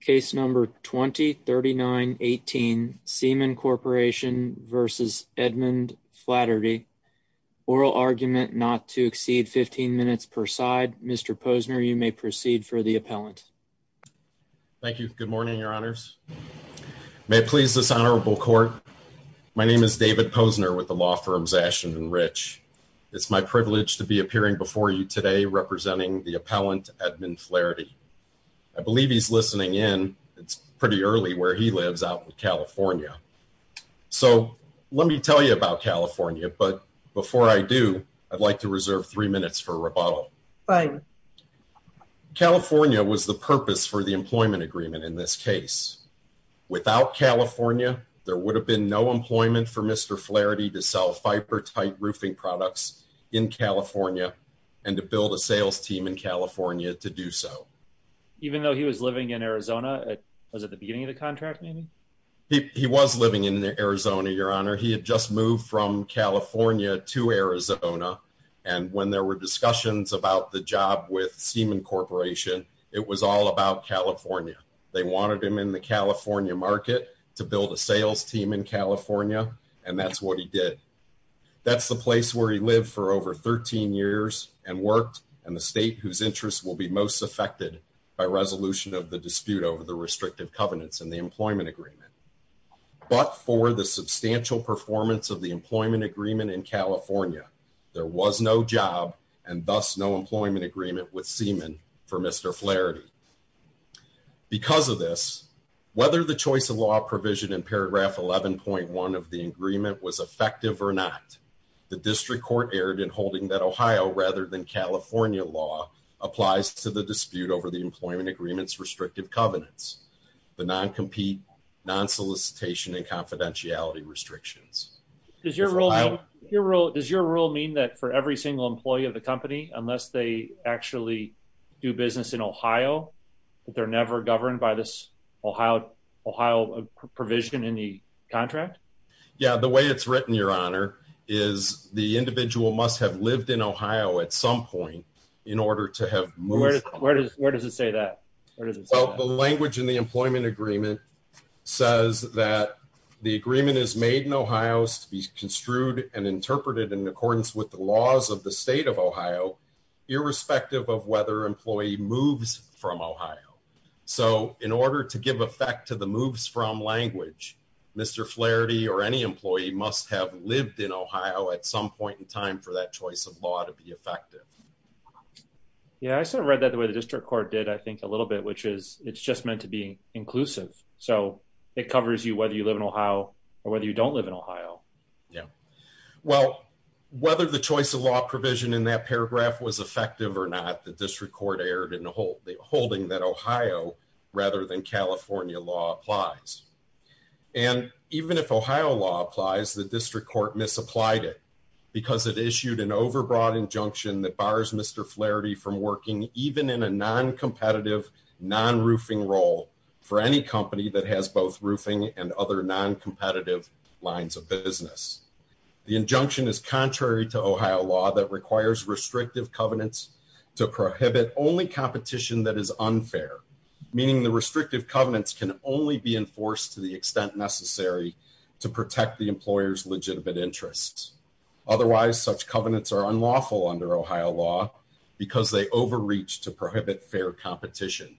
Case number 203918 Seaman Corporation v. Edmond Flaherty. Oral argument not to exceed 15 minutes per side. Mr. Posner, you may proceed for the appellant. Thank you. Good morning, your honors. May it please this honorable court. My name is David Posner with the law firms Ashen and Rich. It's my privilege to be appearing before you today representing the appellant Edmond Flaherty. I believe he's listening in. It's pretty early where he lives out in California. So let me tell you about California. But before I do, I'd like to reserve three minutes for rebuttal. California was the purpose for the employment agreement in this case. Without California, there would have been no employment for Mr. Flaherty to roofing products in California, and to build a sales team in California to do so. Even though he was living in Arizona? Was it the beginning of the contract? He was living in Arizona, your honor. He had just moved from California to Arizona. And when there were discussions about the job with Seaman Corporation, it was all about California. They wanted him in the California market to build a sales team in California. And that's what he did. That's the place where he lived for over 13 years and worked in the state whose interests will be most affected by resolution of the dispute over the restrictive covenants and the employment agreement. But for the substantial performance of the employment agreement in California, there was no job and thus no employment agreement with Seaman for Mr. Flaherty. Because of this, whether the choice of law provision in paragraph 11.1 of the agreement was effective or not, the district court erred in holding that Ohio rather than California law applies to the dispute over the employment agreements restrictive covenants, the non-compete, non-solicitation and confidentiality restrictions. Does your rule mean that for every single employee of the company, unless they actually do business in Ohio, that they're never governed by this Ohio provision in the contract? Yeah, the way it's written, your honor, is the individual must have lived in Ohio at some point in order to have moved. Where does it say that? Well, the language in the employment agreement says that the agreement is made in Ohio's to be construed and interpreted in accordance with the laws of the state of Ohio, irrespective of whether employee moves from Ohio. So in order to give effect to the moves from language, Mr. Flaherty or any employee must have lived in Ohio at some point in time for that choice of law to be effective. Yeah, I sort of read that the way the district court did, I think a little bit, which is it's just meant to be inclusive. So it covers you, whether you live in Ohio or whether you don't live in Ohio. Yeah. Well, whether the choice of law provision in that paragraph was effective or not, the district court erred in holding that Ohio rather than California law applies. And even if Ohio law applies, the district court misapplied it because it issued an overbroad injunction that bars Mr. Flaherty from working even in a non competitive, non roofing role for any company that has both roofing and other non competitive lines of business. The injunction is contrary to Ohio law that requires restrictive covenants to prohibit only competition that is unfair, meaning the restrictive covenants can only be enforced to the extent necessary to protect the employer's legitimate interests. Otherwise, such covenants are unlawful under Ohio law because they overreach to prohibit fair competition.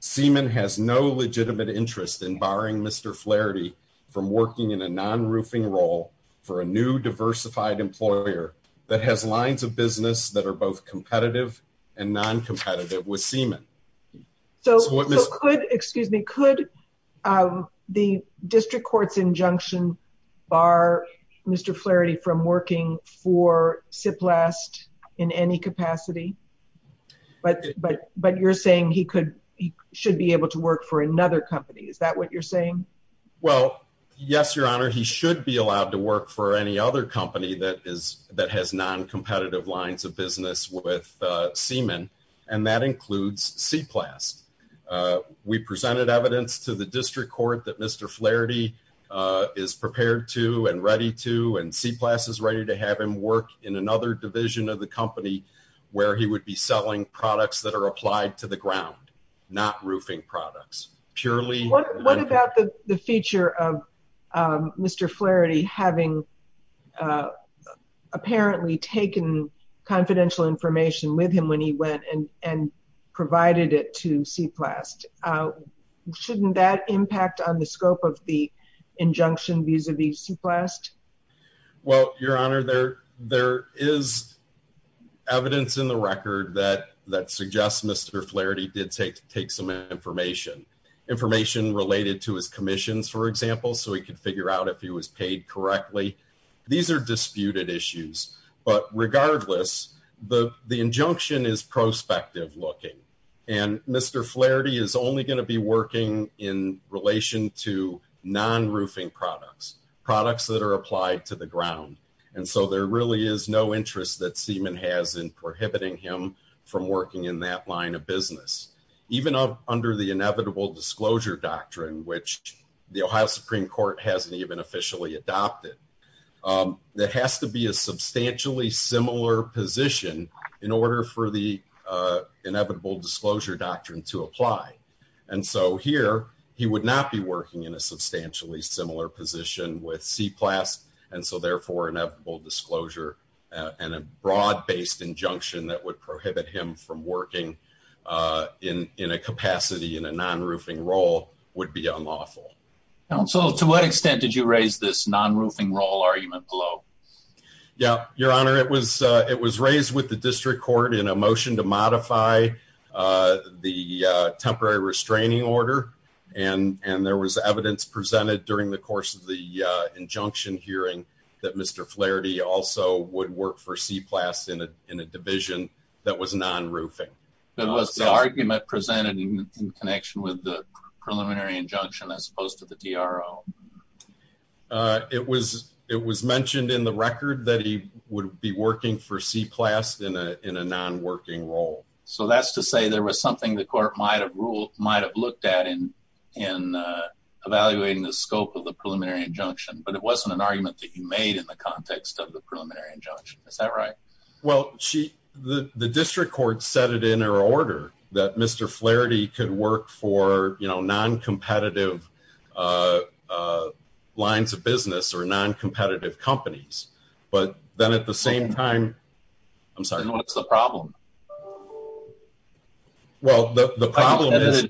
Seaman has no legitimate interest in barring Mr Flaherty from working in a non roofing role for a new diversified employer that has lines of business that are both competitive and non competitive with seaman. So could excuse me, could the district court's injunction bar Mr Flaherty from working for seaman? Well, yes, your honor. He should be allowed to work for any other company that is that has non competitive lines of business with seaman, and that includes seaplast. We presented evidence to the district court that Mr Flaherty is prepared to and ready to and see classes ready to have him work in another division of the company where he would be selling products that are applied to the ground, not roofing products purely. What about the feature of Mr Flaherty having, uh, apparently taken confidential information with him when he went and and provided it to seaplast? Uh, shouldn't that impact on the scope of the injunction? Vis a vis seaplast? Well, your honor, there there is evidence in the record that that suggests Mr Flaherty did take take some information information related to his commissions, for example, so he could figure out if he was paid correctly. These are disputed issues, but regardless, the injunction is prospective looking and Mr Flaherty is only going to be products that are applied to the ground. And so there really is no interest that seaman has in prohibiting him from working in that line of business, even under the inevitable disclosure doctrine, which the Ohio Supreme Court hasn't even officially adopted. Um, there has to be a substantially similar position in order for the, uh, inevitable disclosure doctrine to apply. And so here he would not be working in a substantially similar position with seaplast, and so therefore inevitable disclosure on a broad based injunction that would prohibit him from working, uh, in in a capacity in a non roofing role would be unlawful. So to what extent did you raise this non roofing role argument below? Yeah, your honor, it was. It was raised with the restraining order, and there was evidence presented during the course of the injunction hearing that Mr Flaherty also would work for seaplast in a division that was non roofing. That was the argument presented in connection with the preliminary injunction as opposed to the DRO. Uh, it was. It was mentioned in the record that he would be working for seaplast in a non working role. So that's to say there was something the court might have ruled, might have looked at in in evaluating the scope of the preliminary injunction, but it wasn't an argument that you made in the context of the preliminary injunction. Is that right? Well, she, the district court set it in her order that Mr Flaherty could work for, you know, non competitive, uh, lines of business or non competitive companies. But then at the same time, I'm sorry, what's the problem? Well, the problem is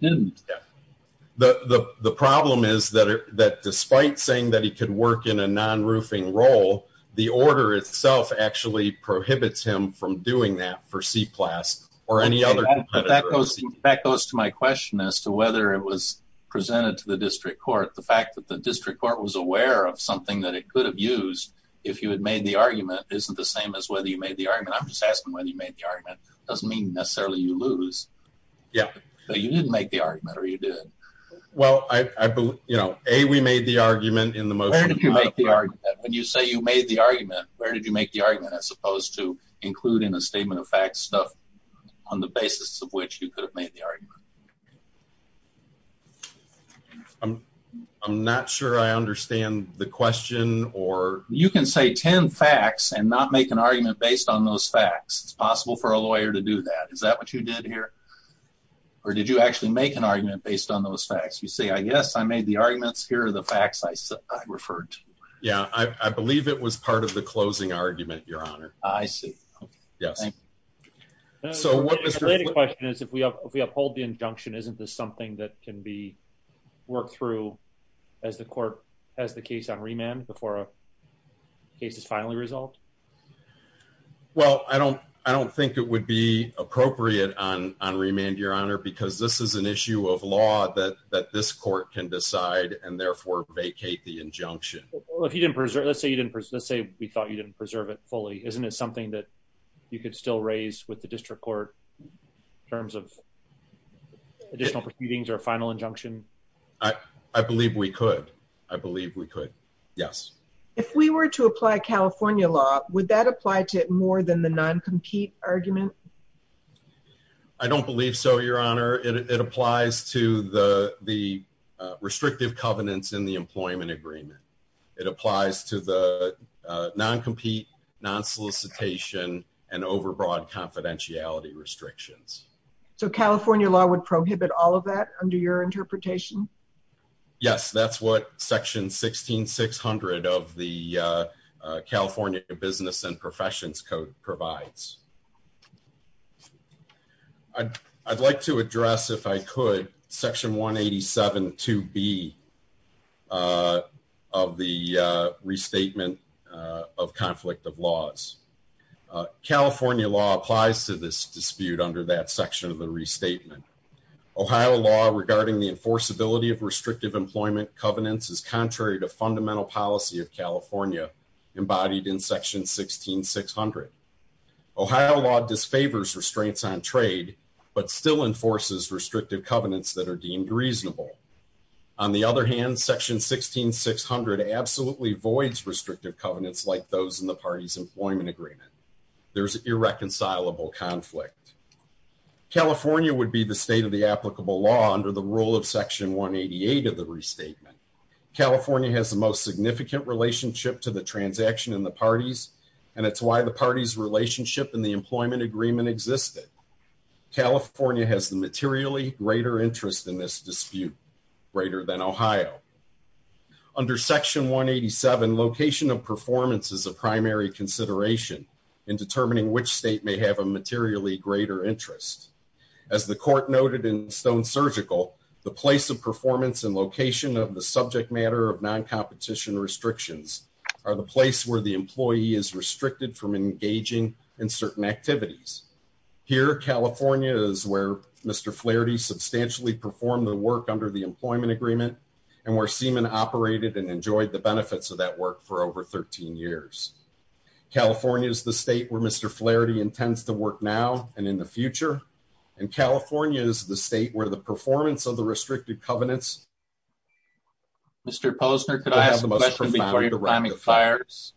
that the problem is that that despite saying that he could work in a non roofing role, the order itself actually prohibits him from doing that for seaplast or any other that goes. That goes to my question as to whether it was presented to the district court. The fact that the district court was aware of something that could have used if you had made the argument isn't the same as whether you made the argument. I'm just asking whether you made the argument doesn't mean necessarily you lose. Yeah, but you didn't make the argument or you did. Well, I, you know, a we made the argument in the motion. You make the argument when you say you made the argument. Where did you make the argument as opposed to including a statement of fact stuff on the basis of which you could have made the I'm not sure I understand the question or you can say 10 facts and not make an argument based on those facts. It's possible for a lawyer to do that. Is that what you did here? Or did you actually make an argument based on those facts? You say, I guess I made the arguments. Here are the facts I referred. Yeah, I believe it was part of the closing argument. Your honor. I see. Yes. So what was the question is if we have if we uphold the injunction, isn't this something that can be worked through as the court has the case on remand before a case is finally resolved? Well, I don't I don't think it would be appropriate on on remand, your honor, because this is an issue of law that that this court can decide and therefore vacate the injunction. Well, if you didn't preserve, let's say you didn't. Let's say we thought you didn't preserve it fully. Isn't it something that you could still raise with the district court in terms of additional proceedings or final injunction? I believe we could. I believe we could. Yes. If we were to apply California law, would that apply to more than the non compete argument? I don't believe so. Your honor. It applies to the the restrictive covenants in the employment agreement. It applies to the non compete non solicitation and overbroad confidentiality restrictions. So California law would prohibit all of that under your interpretation? Yes, that's what section 16 600 of the California Business and Professions Code provides. I'd like to address if I could section 187 to be uh, of the restatement of conflict of laws. California law applies to this dispute under that section of the restatement. Ohio law regarding the enforceability of restrictive employment covenants is contrary to fundamental policy of California embodied in section 16 600. Ohio law disfavors restraints on trade but still enforces restrictive covenants that are deemed reasonable. On the other hand, section 16 600 absolutely voids restrictive covenants like those in the party's employment agreement. There's irreconcilable conflict. California would be the state of the applicable law under the rule of section 1 88 of the restatement. California has the most significant relationship to the transaction in the parties, and it's why the party's relationship in the employment agreement existed. California has the materially greater interest in this dispute greater than Ohio. Under section 1 87, location of performance is a primary consideration in determining which state may have a materially greater interest. As the court noted in Stone Surgical, the place of performance and location of the subject matter of non competition restrictions are the place where the employee is restricted from engaging in certain activities. Here, California is where Mr. Flaherty substantially performed the work under the employment agreement and where semen operated and enjoyed the benefits of that work for over 13 years. California is the state where Mr. Flaherty intends to work now and in the future, and California is the state where the performance of the restricted covenants. Mr. Posner, could I ask a question fires?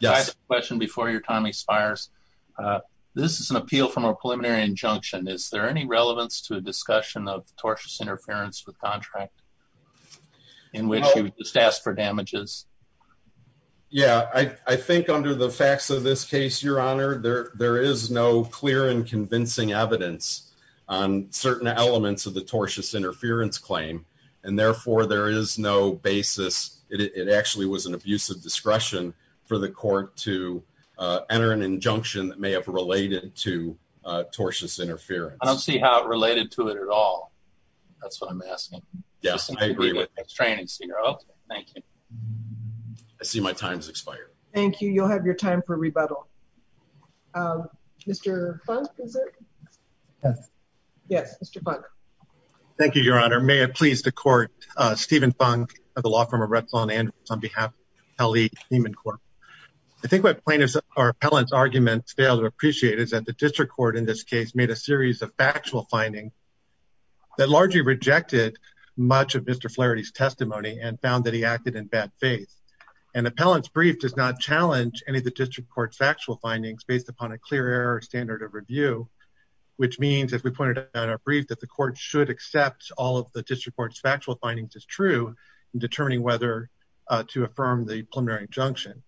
Yes, question before your time expires. Uh, this is an appeal from a preliminary injunction. Is there any relevance to a discussion of tortious interference with contract in which you just asked for damages? Yeah, I think under the facts of this case, your honor, there there is no clear and convincing evidence on certain elements of the tortious interference claim, and therefore there is no basis. It actually was an abusive discretion for the court to enter an injunction that may have related to tortious interference. I don't see how it related to it at all. That's what I'm asking. Yes, I agree with restraining. Thank you. I see my time's expired. Thank you. You'll have your time for rebuttal. Um, Mr Funk, is it? Yes. Yes, Mr Funk. Thank you, Your Honor. May it please the court, uh, Stephen Funk of the law firm of Red Swan and on behalf of Kelly Human Corp. I think what plaintiffs or appellants arguments fail to appreciate is that the district court in this case made a series of factual finding that largely rejected much of Mr Flaherty's testimony and found that he acted in faith. An appellant's brief does not challenge any of the district court's factual findings based upon a clear error standard of review, which means, as we pointed out in our brief, that the court should accept all of the district court's factual findings as true in determining whether to affirm the preliminary injunction.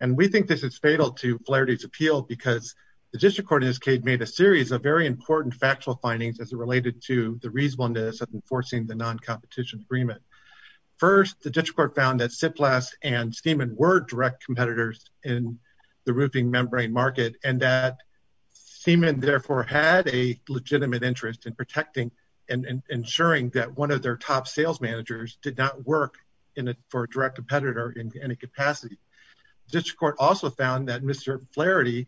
And we think this is fatal to Flaherty's appeal because the district court in this case made a series of very important factual findings as it related to the reasonableness of enforcing the non-competition agreement. First, the district court found that Tsipras and Seaman were direct competitors in the roofing membrane market and that Seaman therefore had a legitimate interest in protecting and ensuring that one of their top sales managers did not work in it for a direct competitor in any capacity. The district court also found that Mr Flaherty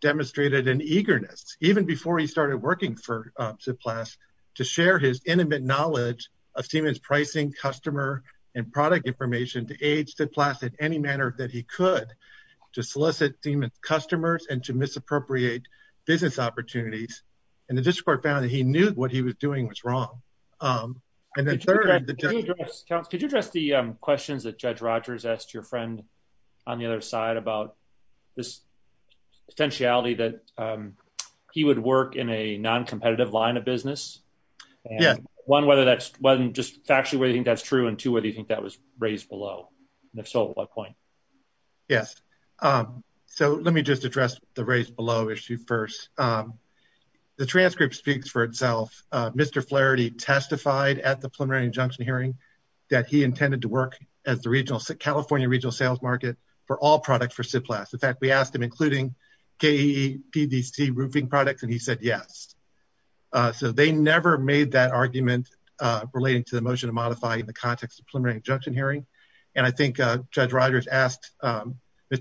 demonstrated an eagerness, even before he started working for Tsipras, to share his intimate knowledge of Seaman's pricing, customer, and product information to aid Tsipras in any manner that he could to solicit Seaman's customers and to misappropriate business opportunities. And the district court found that he knew what he was doing was wrong. And then thirdly, could you address the questions that Judge Rogers asked your friend on the other side about this potentiality that he would work in a non-competitive line of business? Yeah. One, whether that's just factually whether you think that's true, and two, whether you think that was raised below? And if so, at what point? Yes. So let me just address the raised below issue first. The transcript speaks for itself. Mr. Flaherty testified at the preliminary injunction hearing that he intended to work as the California regional sales market for all products for Tsipras. In fact, we asked him, including KEE, PDC roofing products, and he said yes. So they never made that argument relating to the motion to modify in the context of preliminary injunction hearing. And I think Judge Rogers asked Mr.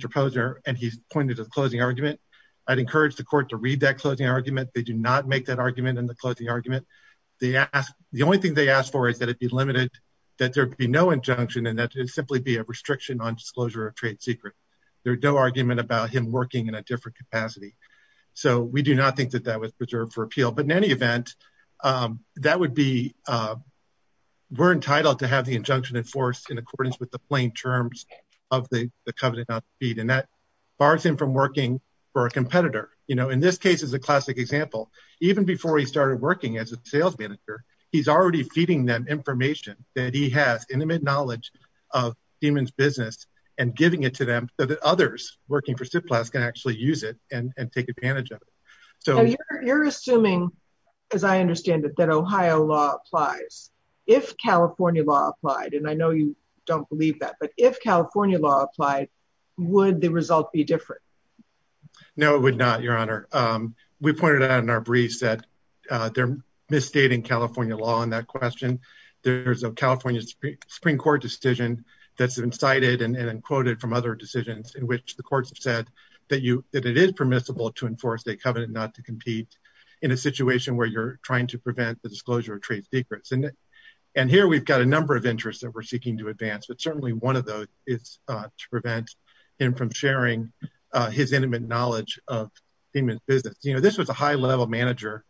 Posner, and he's pointed to the closing argument. I'd encourage the court to read that closing argument. They do not make that argument in the closing argument. The only thing they asked for is that it be limited, that there be no injunction, and that it simply be a restriction on disclosure of trade secret. There's no argument about him working in a different capacity. So we do not think that that was preserved for appeal. But in any event, we're entitled to have the injunction enforced in accordance with the plain terms of the covenant not to feed. And that bars him from working for a competitor. You know, in this case is a classic example. Even before he started working as a sales manager, he's already feeding them information that he has intimate knowledge of Demon's business and giving it to them so that others working for Tsipras can actually use it and take advantage of it. So you're assuming, as I understand it, that Ohio law applies. If California law applied, I know you don't believe that, but if California law applied, would the result be different? No, it would not, Your Honor. We pointed out in our briefs that they're misstating California law on that question. There's a California Supreme Court decision that's incited and quoted from other decisions in which the courts have said that it is permissible to enforce a covenant not to compete in a situation where you're trying to prevent the disclosure of trade secrets. And here we've got a number of interests that we're seeking to advance, but certainly one of those is to prevent him from sharing his intimate knowledge of Demon's business. You know, this was a high-level manager,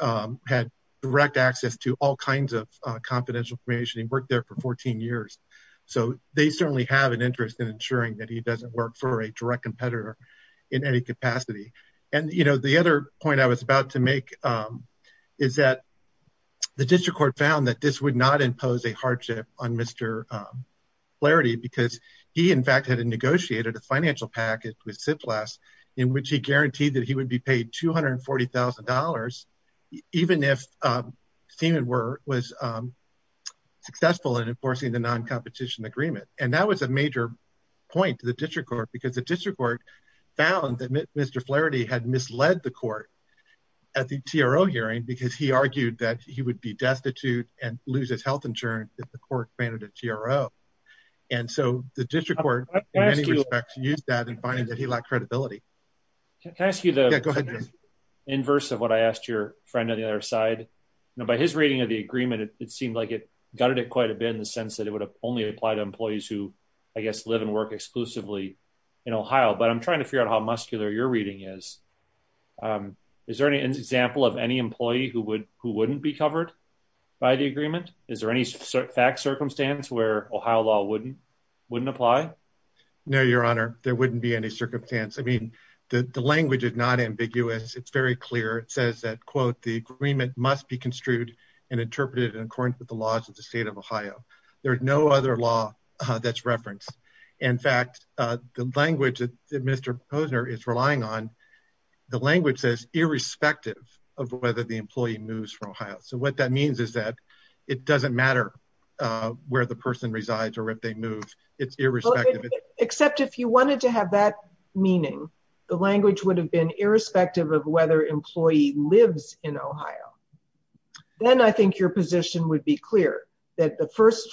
had direct access to all kinds of confidential information. He worked there for 14 years. So they certainly have an interest in ensuring that he doesn't work for a direct competitor in any capacity. And, you know, the other point I was about to make is that the district court found that this would not impose a hardship on Mr. Flaherty because he, in fact, had negotiated a financial package with CIPLAS in which he guaranteed that he would be paid $240,000 even if Demon was successful in enforcing the non-competition agreement. And that was a major point to the district court because the district court found that Mr. Flaherty had misled the court at the TRO hearing because he argued that he would be destitute and lose his health insurance if the court granted a TRO. And so the district court, in many respects, used that in finding that he lacked credibility. Can I ask you the inverse of what I asked your friend on the other side? You know, by his reading of the agreement, it seemed like it gutted it quite a bit in the sense that it would only apply to employees who, I guess, live and work exclusively in Ohio. But I'm trying to figure out how muscular your reading is. Is there any example of any employee who wouldn't be covered by the agreement? Is there any fact circumstance where Ohio law wouldn't apply? No, your honor. There wouldn't be any circumstance. I mean, the language is not ambiguous. It's very clear. It says that, quote, the agreement must be construed and interpreted in accordance with the laws of the state of Ohio. There is no other law that's referenced. In fact, the language that Mr. Posner is relying on, the language says irrespective of whether the employee moves from Ohio. So what that means is that it doesn't matter where the person resides or if they move. It's irrespective. Except if you wanted to have that meaning, the language would have been irrespective of whether employee lives in Ohio. Then I think your position would be clear that the first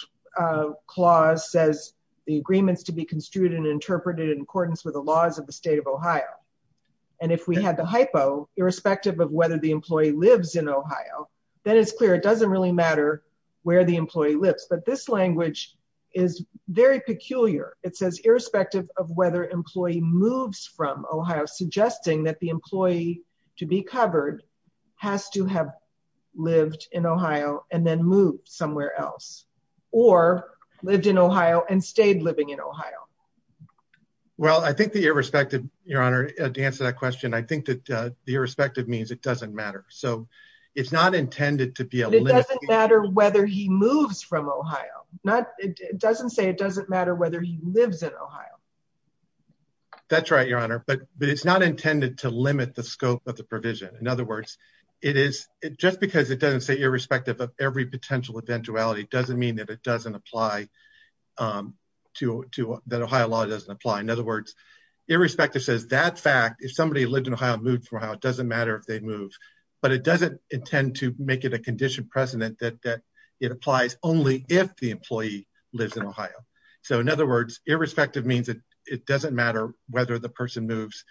clause says the agreements to be construed and interpreted in accordance with laws of the state of Ohio. And if we had the hypo irrespective of whether the employee lives in Ohio, then it's clear it doesn't really matter where the employee lives. But this language is very peculiar. It says irrespective of whether employee moves from Ohio, suggesting that the employee to be covered has to have lived in Ohio and then moved somewhere else or lived in Ohio and stayed living in Ohio. Well, I think the irrespective, Your Honor, to answer that question, I think that the irrespective means it doesn't matter. So it's not intended to be a matter whether he moves from Ohio. It doesn't say it doesn't matter whether he lives in Ohio. That's right, Your Honor. But it's not intended to limit the scope of the provision. In other words, it is just because it doesn't say irrespective of every potential eventuality doesn't mean that it to that Ohio law doesn't apply. In other words, irrespective says that fact, if somebody lived in Ohio, moved from Ohio, it doesn't matter if they move. But it doesn't intend to make it a condition precedent that it applies only if the employee lives in Ohio. So in other words, irrespective means that it doesn't matter whether the person moves.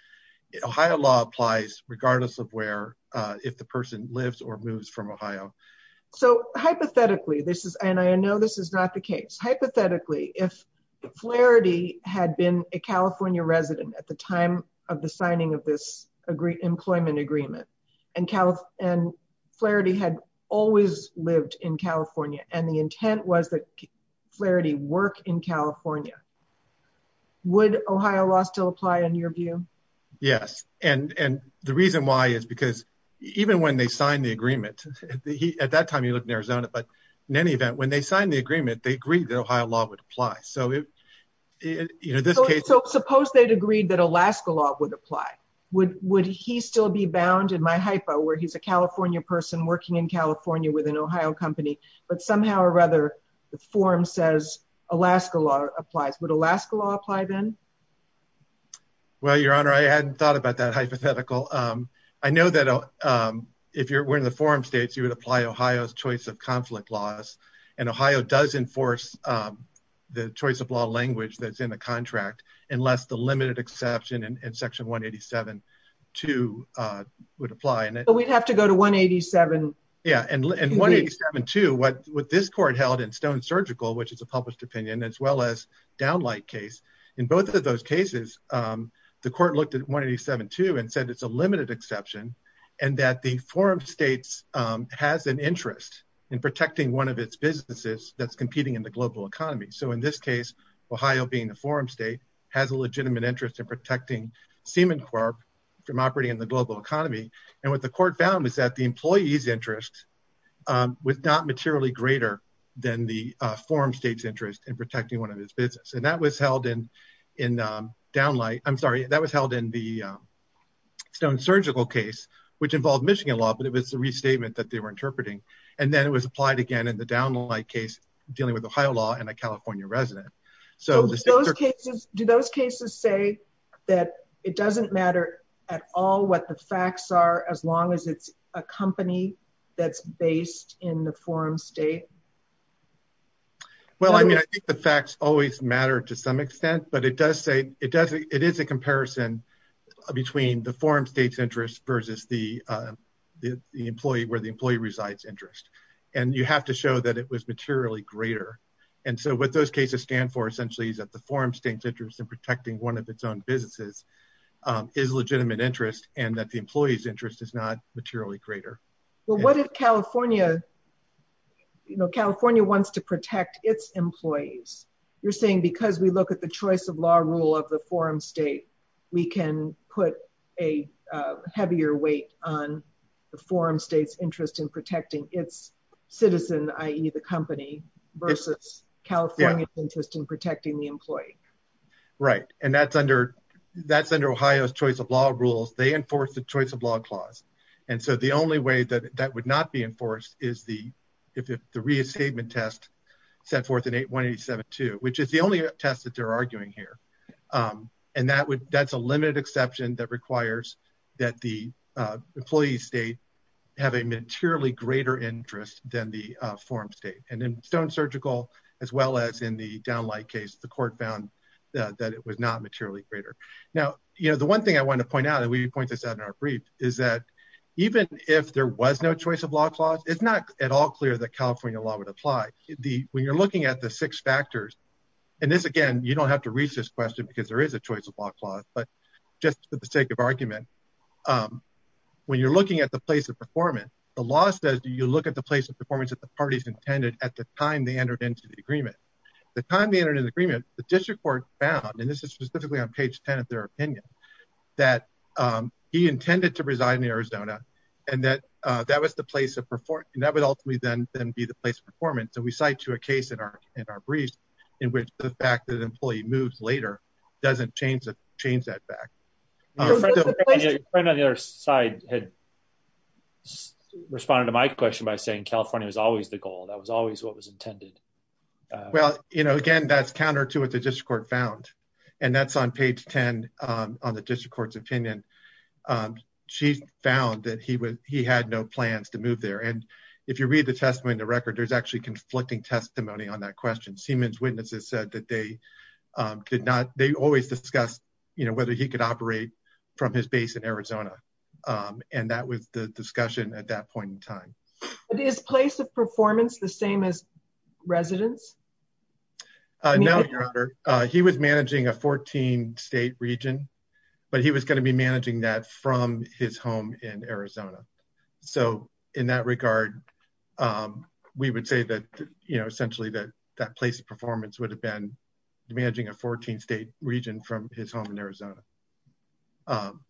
Ohio law applies regardless of where if the person lives or moves from Ohio. So hypothetically, this is and I know this is not the case. Hypothetically, if Flaherty had been a California resident at the time of the signing of this employment agreement, and Flaherty had always lived in California, and the intent was that Flaherty work in California, would Ohio law still apply in your view? Yes. And the reason why is because even when they signed the agreement, at that time, he lived in Arizona. But in any they agreed that Ohio law would apply. So if you know, this case, suppose they'd agreed that Alaska law would apply, would would he still be bound in my hypo where he's a California person working in California with an Ohio company, but somehow or rather, the forum says, Alaska law applies, would Alaska law apply then? Well, Your Honor, I hadn't thought about that hypothetical. I know that if you're wearing the forum states, you would apply Ohio's choice of conflict laws. And Ohio does enforce the choice of law language that's in the contract, unless the limited exception and section 187 to would apply and we'd have to go to 187. Yeah, and 187 to what what this court held in stone surgical, which is a published opinion, as well as downlight case. In both of those cases, the court looked at 187 to and said, it's a limited exception, and that the forum states has an interest in protecting one of its businesses that's competing in the global economy. So in this case, Ohio being a forum state has a legitimate interest in protecting semen corp from operating in the global economy. And what the court found was that the employees interest was not materially greater than the forum states interest in protecting one of his business. And that was held in in downlight, I'm sorry, that was held in the stone surgical case, which involved Michigan law, but it was a restatement that they were interpreting. And then it was applied again in the downlight case, dealing with Ohio law and a California resident. So those cases, do those cases say that it doesn't matter at all what the facts are, as long as it's a company that's based in the forum state? Well, I mean, I think the facts always matter to some extent, but it does say it does, it is a comparison between the forum states interest versus the employee where the employee resides interest. And you have to show that it was materially greater. And so what those cases stand for essentially is that the forum states interest in protecting one of its own businesses is legitimate interest, and that the employee's interest is not materially greater. Well, what if California, you know, California wants to protect its employees, you're saying because we look at the choice of law rule of the forum state, we can put a heavier weight on the forum states interest in protecting its citizen, i.e. the company versus California's interest in protecting the employee. Right. And that's under that's under Ohio's choice of law rules, they enforce the choice of law clause. And so the only way that that would not be enforced is the if the re-statement test set forth in 1872, which is the only test that they're arguing here. And that's a limited exception that requires that the employee state have a materially greater interest than the forum state. And in Stone Surgical, as well as in the downlight case, the court found that it was not materially greater. Now, you know, the one thing I want to point out, and we point this out in our brief, is that even if there was no choice of law clause, it's not at all clear that California law would apply the when you're looking at the six factors. And this, again, you don't have to reach this question, because there is a choice of law clause. But just for the sake of argument, when you're looking at the place of performance, the law says, do you look at the place of performance at the parties intended at the time they entered into the agreement? The time they entered into the agreement, the district court found, and this is specifically on page 10 of their opinion, that he intended to reside in Arizona, and that that was the place of performance, and that would ultimately then be the place of performance. And we cite to a case in our in our briefs, in which the fact that an employee moves later, doesn't change that fact. Your friend on the other side had responded to my question by saying California was always the well, you know, again, that's counter to what the district court found. And that's on page 10. On the district court's opinion. She found that he was he had no plans to move there. And if you read the testimony in the record, there's actually conflicting testimony on that question. Siemens witnesses said that they did not they always discussed, you know, whether he could operate from his base in Arizona. And that was the discussion at that point in time. It is place of performance, the same as residents. He was managing a 14 state region, but he was going to be managing that from his home in Arizona. So in that regard, we would say that, you know, essentially that that place of performance would have been managing a 14 state region from his home in Arizona. I'm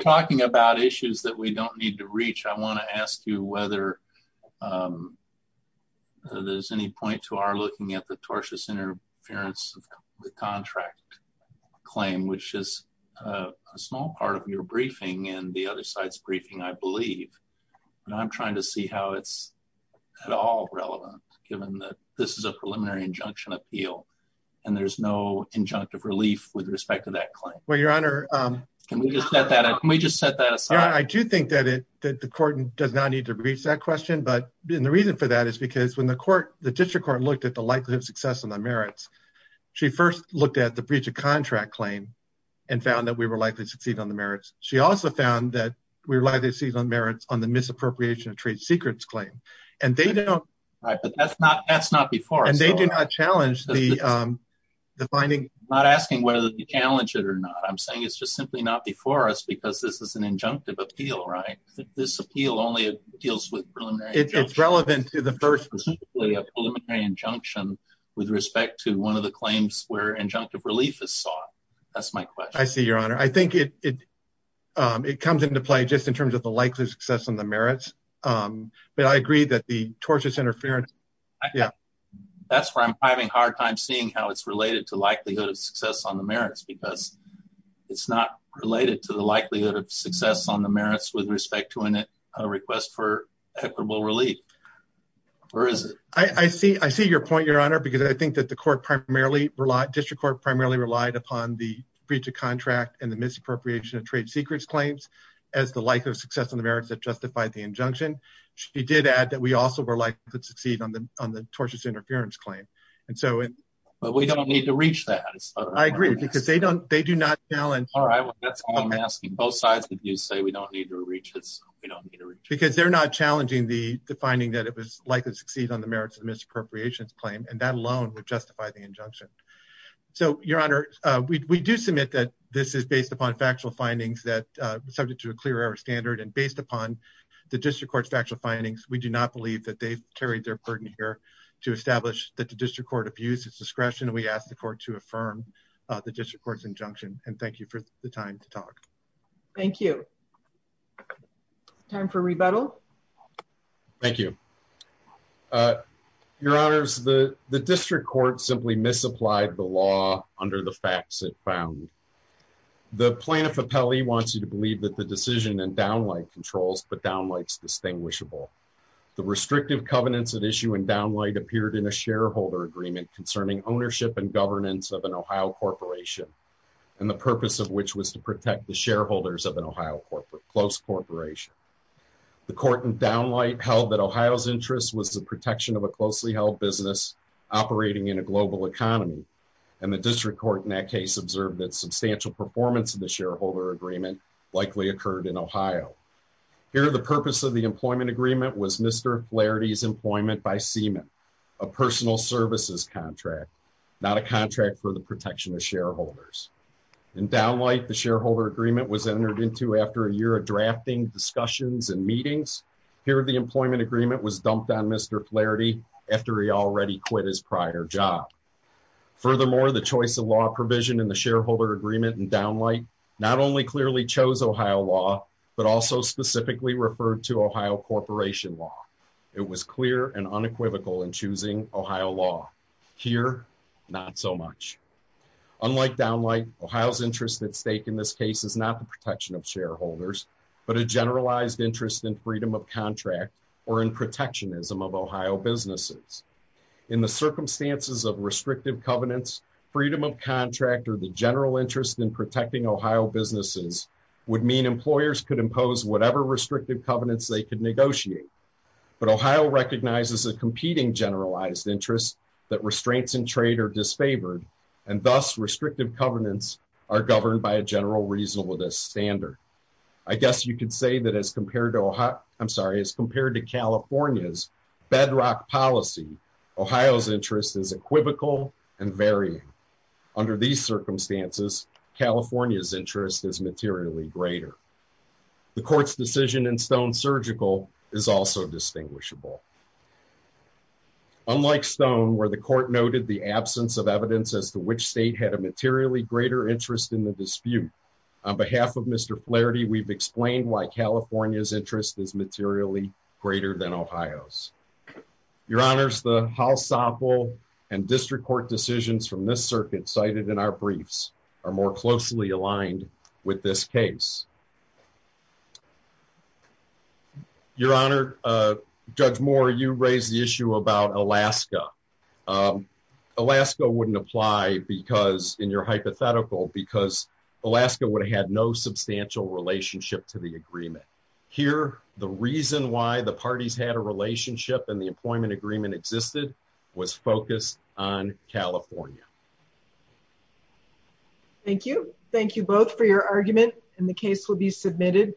talking about issues that we don't need to reach. I want to ask you whether there's any point to our looking at the tortious interference of the contract claim, which is a small part of your briefing and the other side's briefing, I believe. And I'm trying to see how it's at all relevant, given that this is a preliminary injunction appeal. And there's no injunctive relief with respect to that claim. Well, your honor, can we just set that up? Can we just set that aside? I do think that it that the court does not need to reach that question. But the reason for that is because when the court, the district court looked at the likelihood of success on the merits, she first looked at the breach of contract claim and found that we were likely to succeed on the merits. She also found that we relied on merits on the misappropriation of trade secrets claim. And they don't. Right. But that's not that's not before. And they do not challenge the finding. Not asking whether you challenge it or not. I'm saying it's just simply not before us because this is an injunctive appeal. Right. This appeal only deals with preliminary. It's relevant to the first preliminary injunction with respect to one of the claims where injunctive relief is sought. That's my question. I see your honor. I think it it comes into play just in terms the likelihood of success on the merits. But I agree that the tortious interference. Yeah, that's where I'm having a hard time seeing how it's related to likelihood of success on the merits because it's not related to the likelihood of success on the merits with respect to a request for equitable relief. Or is it? I see I see your point, your honor, because I think that the court primarily district court primarily relied upon the breach of contract and the misappropriation of trade secrets claims as the likelihood of success on the merits that justified the injunction. She did add that we also were likely to succeed on the on the tortious interference claim. And so but we don't need to reach that. I agree because they don't they do not challenge. All right. That's why I'm asking both sides that you say we don't need to reach this because they're not challenging the finding that it was likely to succeed on the merits of misappropriations claim. And that alone would justify the injunction. So, your honor, we do submit that this is based upon factual findings that subject to a clear air standard and based upon the district court's factual findings. We do not believe that they've carried their burden here to establish that the district court abuses discretion. We asked the court to affirm the district court's injunction. And thank you for the time to talk. Thank you. Time for rebuttal. Thank you. Uh, your honors, the district court simply misapplied the law under the facts it found. The plaintiff appellee wants you to believe that the decision and downlight controls, but downlights distinguishable. The restrictive covenants that issue and downlight appeared in a shareholder agreement concerning ownership and governance of an Ohio corporation, and the purpose of which was to protect the shareholders of an Ohio corporate close corporation. The court and downlight held that Ohio's interest was the protection of a closely held business operating in a global economy. And the district court in that case observed that substantial performance in the shareholder agreement likely occurred in Ohio. Here, the purpose of the employment agreement was Mr. Flaherty's employment by semen, a personal services contract, not a contract for the protection of shareholders. And downlight the shareholder agreement was entered into after a year of drafting discussions and meetings. Here, the employment agreement was dumped on Mr. Flaherty after he already quit his prior job. Furthermore, the choice of law provision in the shareholder agreement and downlight not only clearly chose Ohio law, but also specifically referred to Ohio corporation law. It was clear and unequivocal in choosing Ohio law here. Not so much. Unlike downlight Ohio's interest at stake in this case is not protection of shareholders, but a generalized interest in freedom of contract or in protectionism of Ohio businesses. In the circumstances of restrictive covenants, freedom of contract or the general interest in protecting Ohio businesses would mean employers could impose whatever restrictive covenants they could negotiate. But Ohio recognizes a competing generalized interest that restraints in trade are disfavored and thus restrictive covenants are governed by a general reasonableness standard. I guess you could say that as compared to Ohio, I'm sorry, as compared to California's bedrock policy, Ohio's interest is equivocal and varying. Under these circumstances, California's interest is materially greater. The court's decision in Stone Surgical is also distinguishable. Unlike Stone, where the court noted the absence of interest in the dispute on behalf of Mr Flaherty, we've explained why California's interest is materially greater than Ohio's. Your Honor's the House sample and district court decisions from this circuit cited in our briefs are more closely aligned with this case. Your Honor, uh, Judge Moore, you raise the issue about Alaska. Um, Alaska wouldn't apply because in your hypothetical, because Alaska would have had no substantial relationship to the agreement here. The reason why the parties had a relationship and the employment agreement existed was focused on California. Thank you. Thank you both for your argument and the case will be submitted.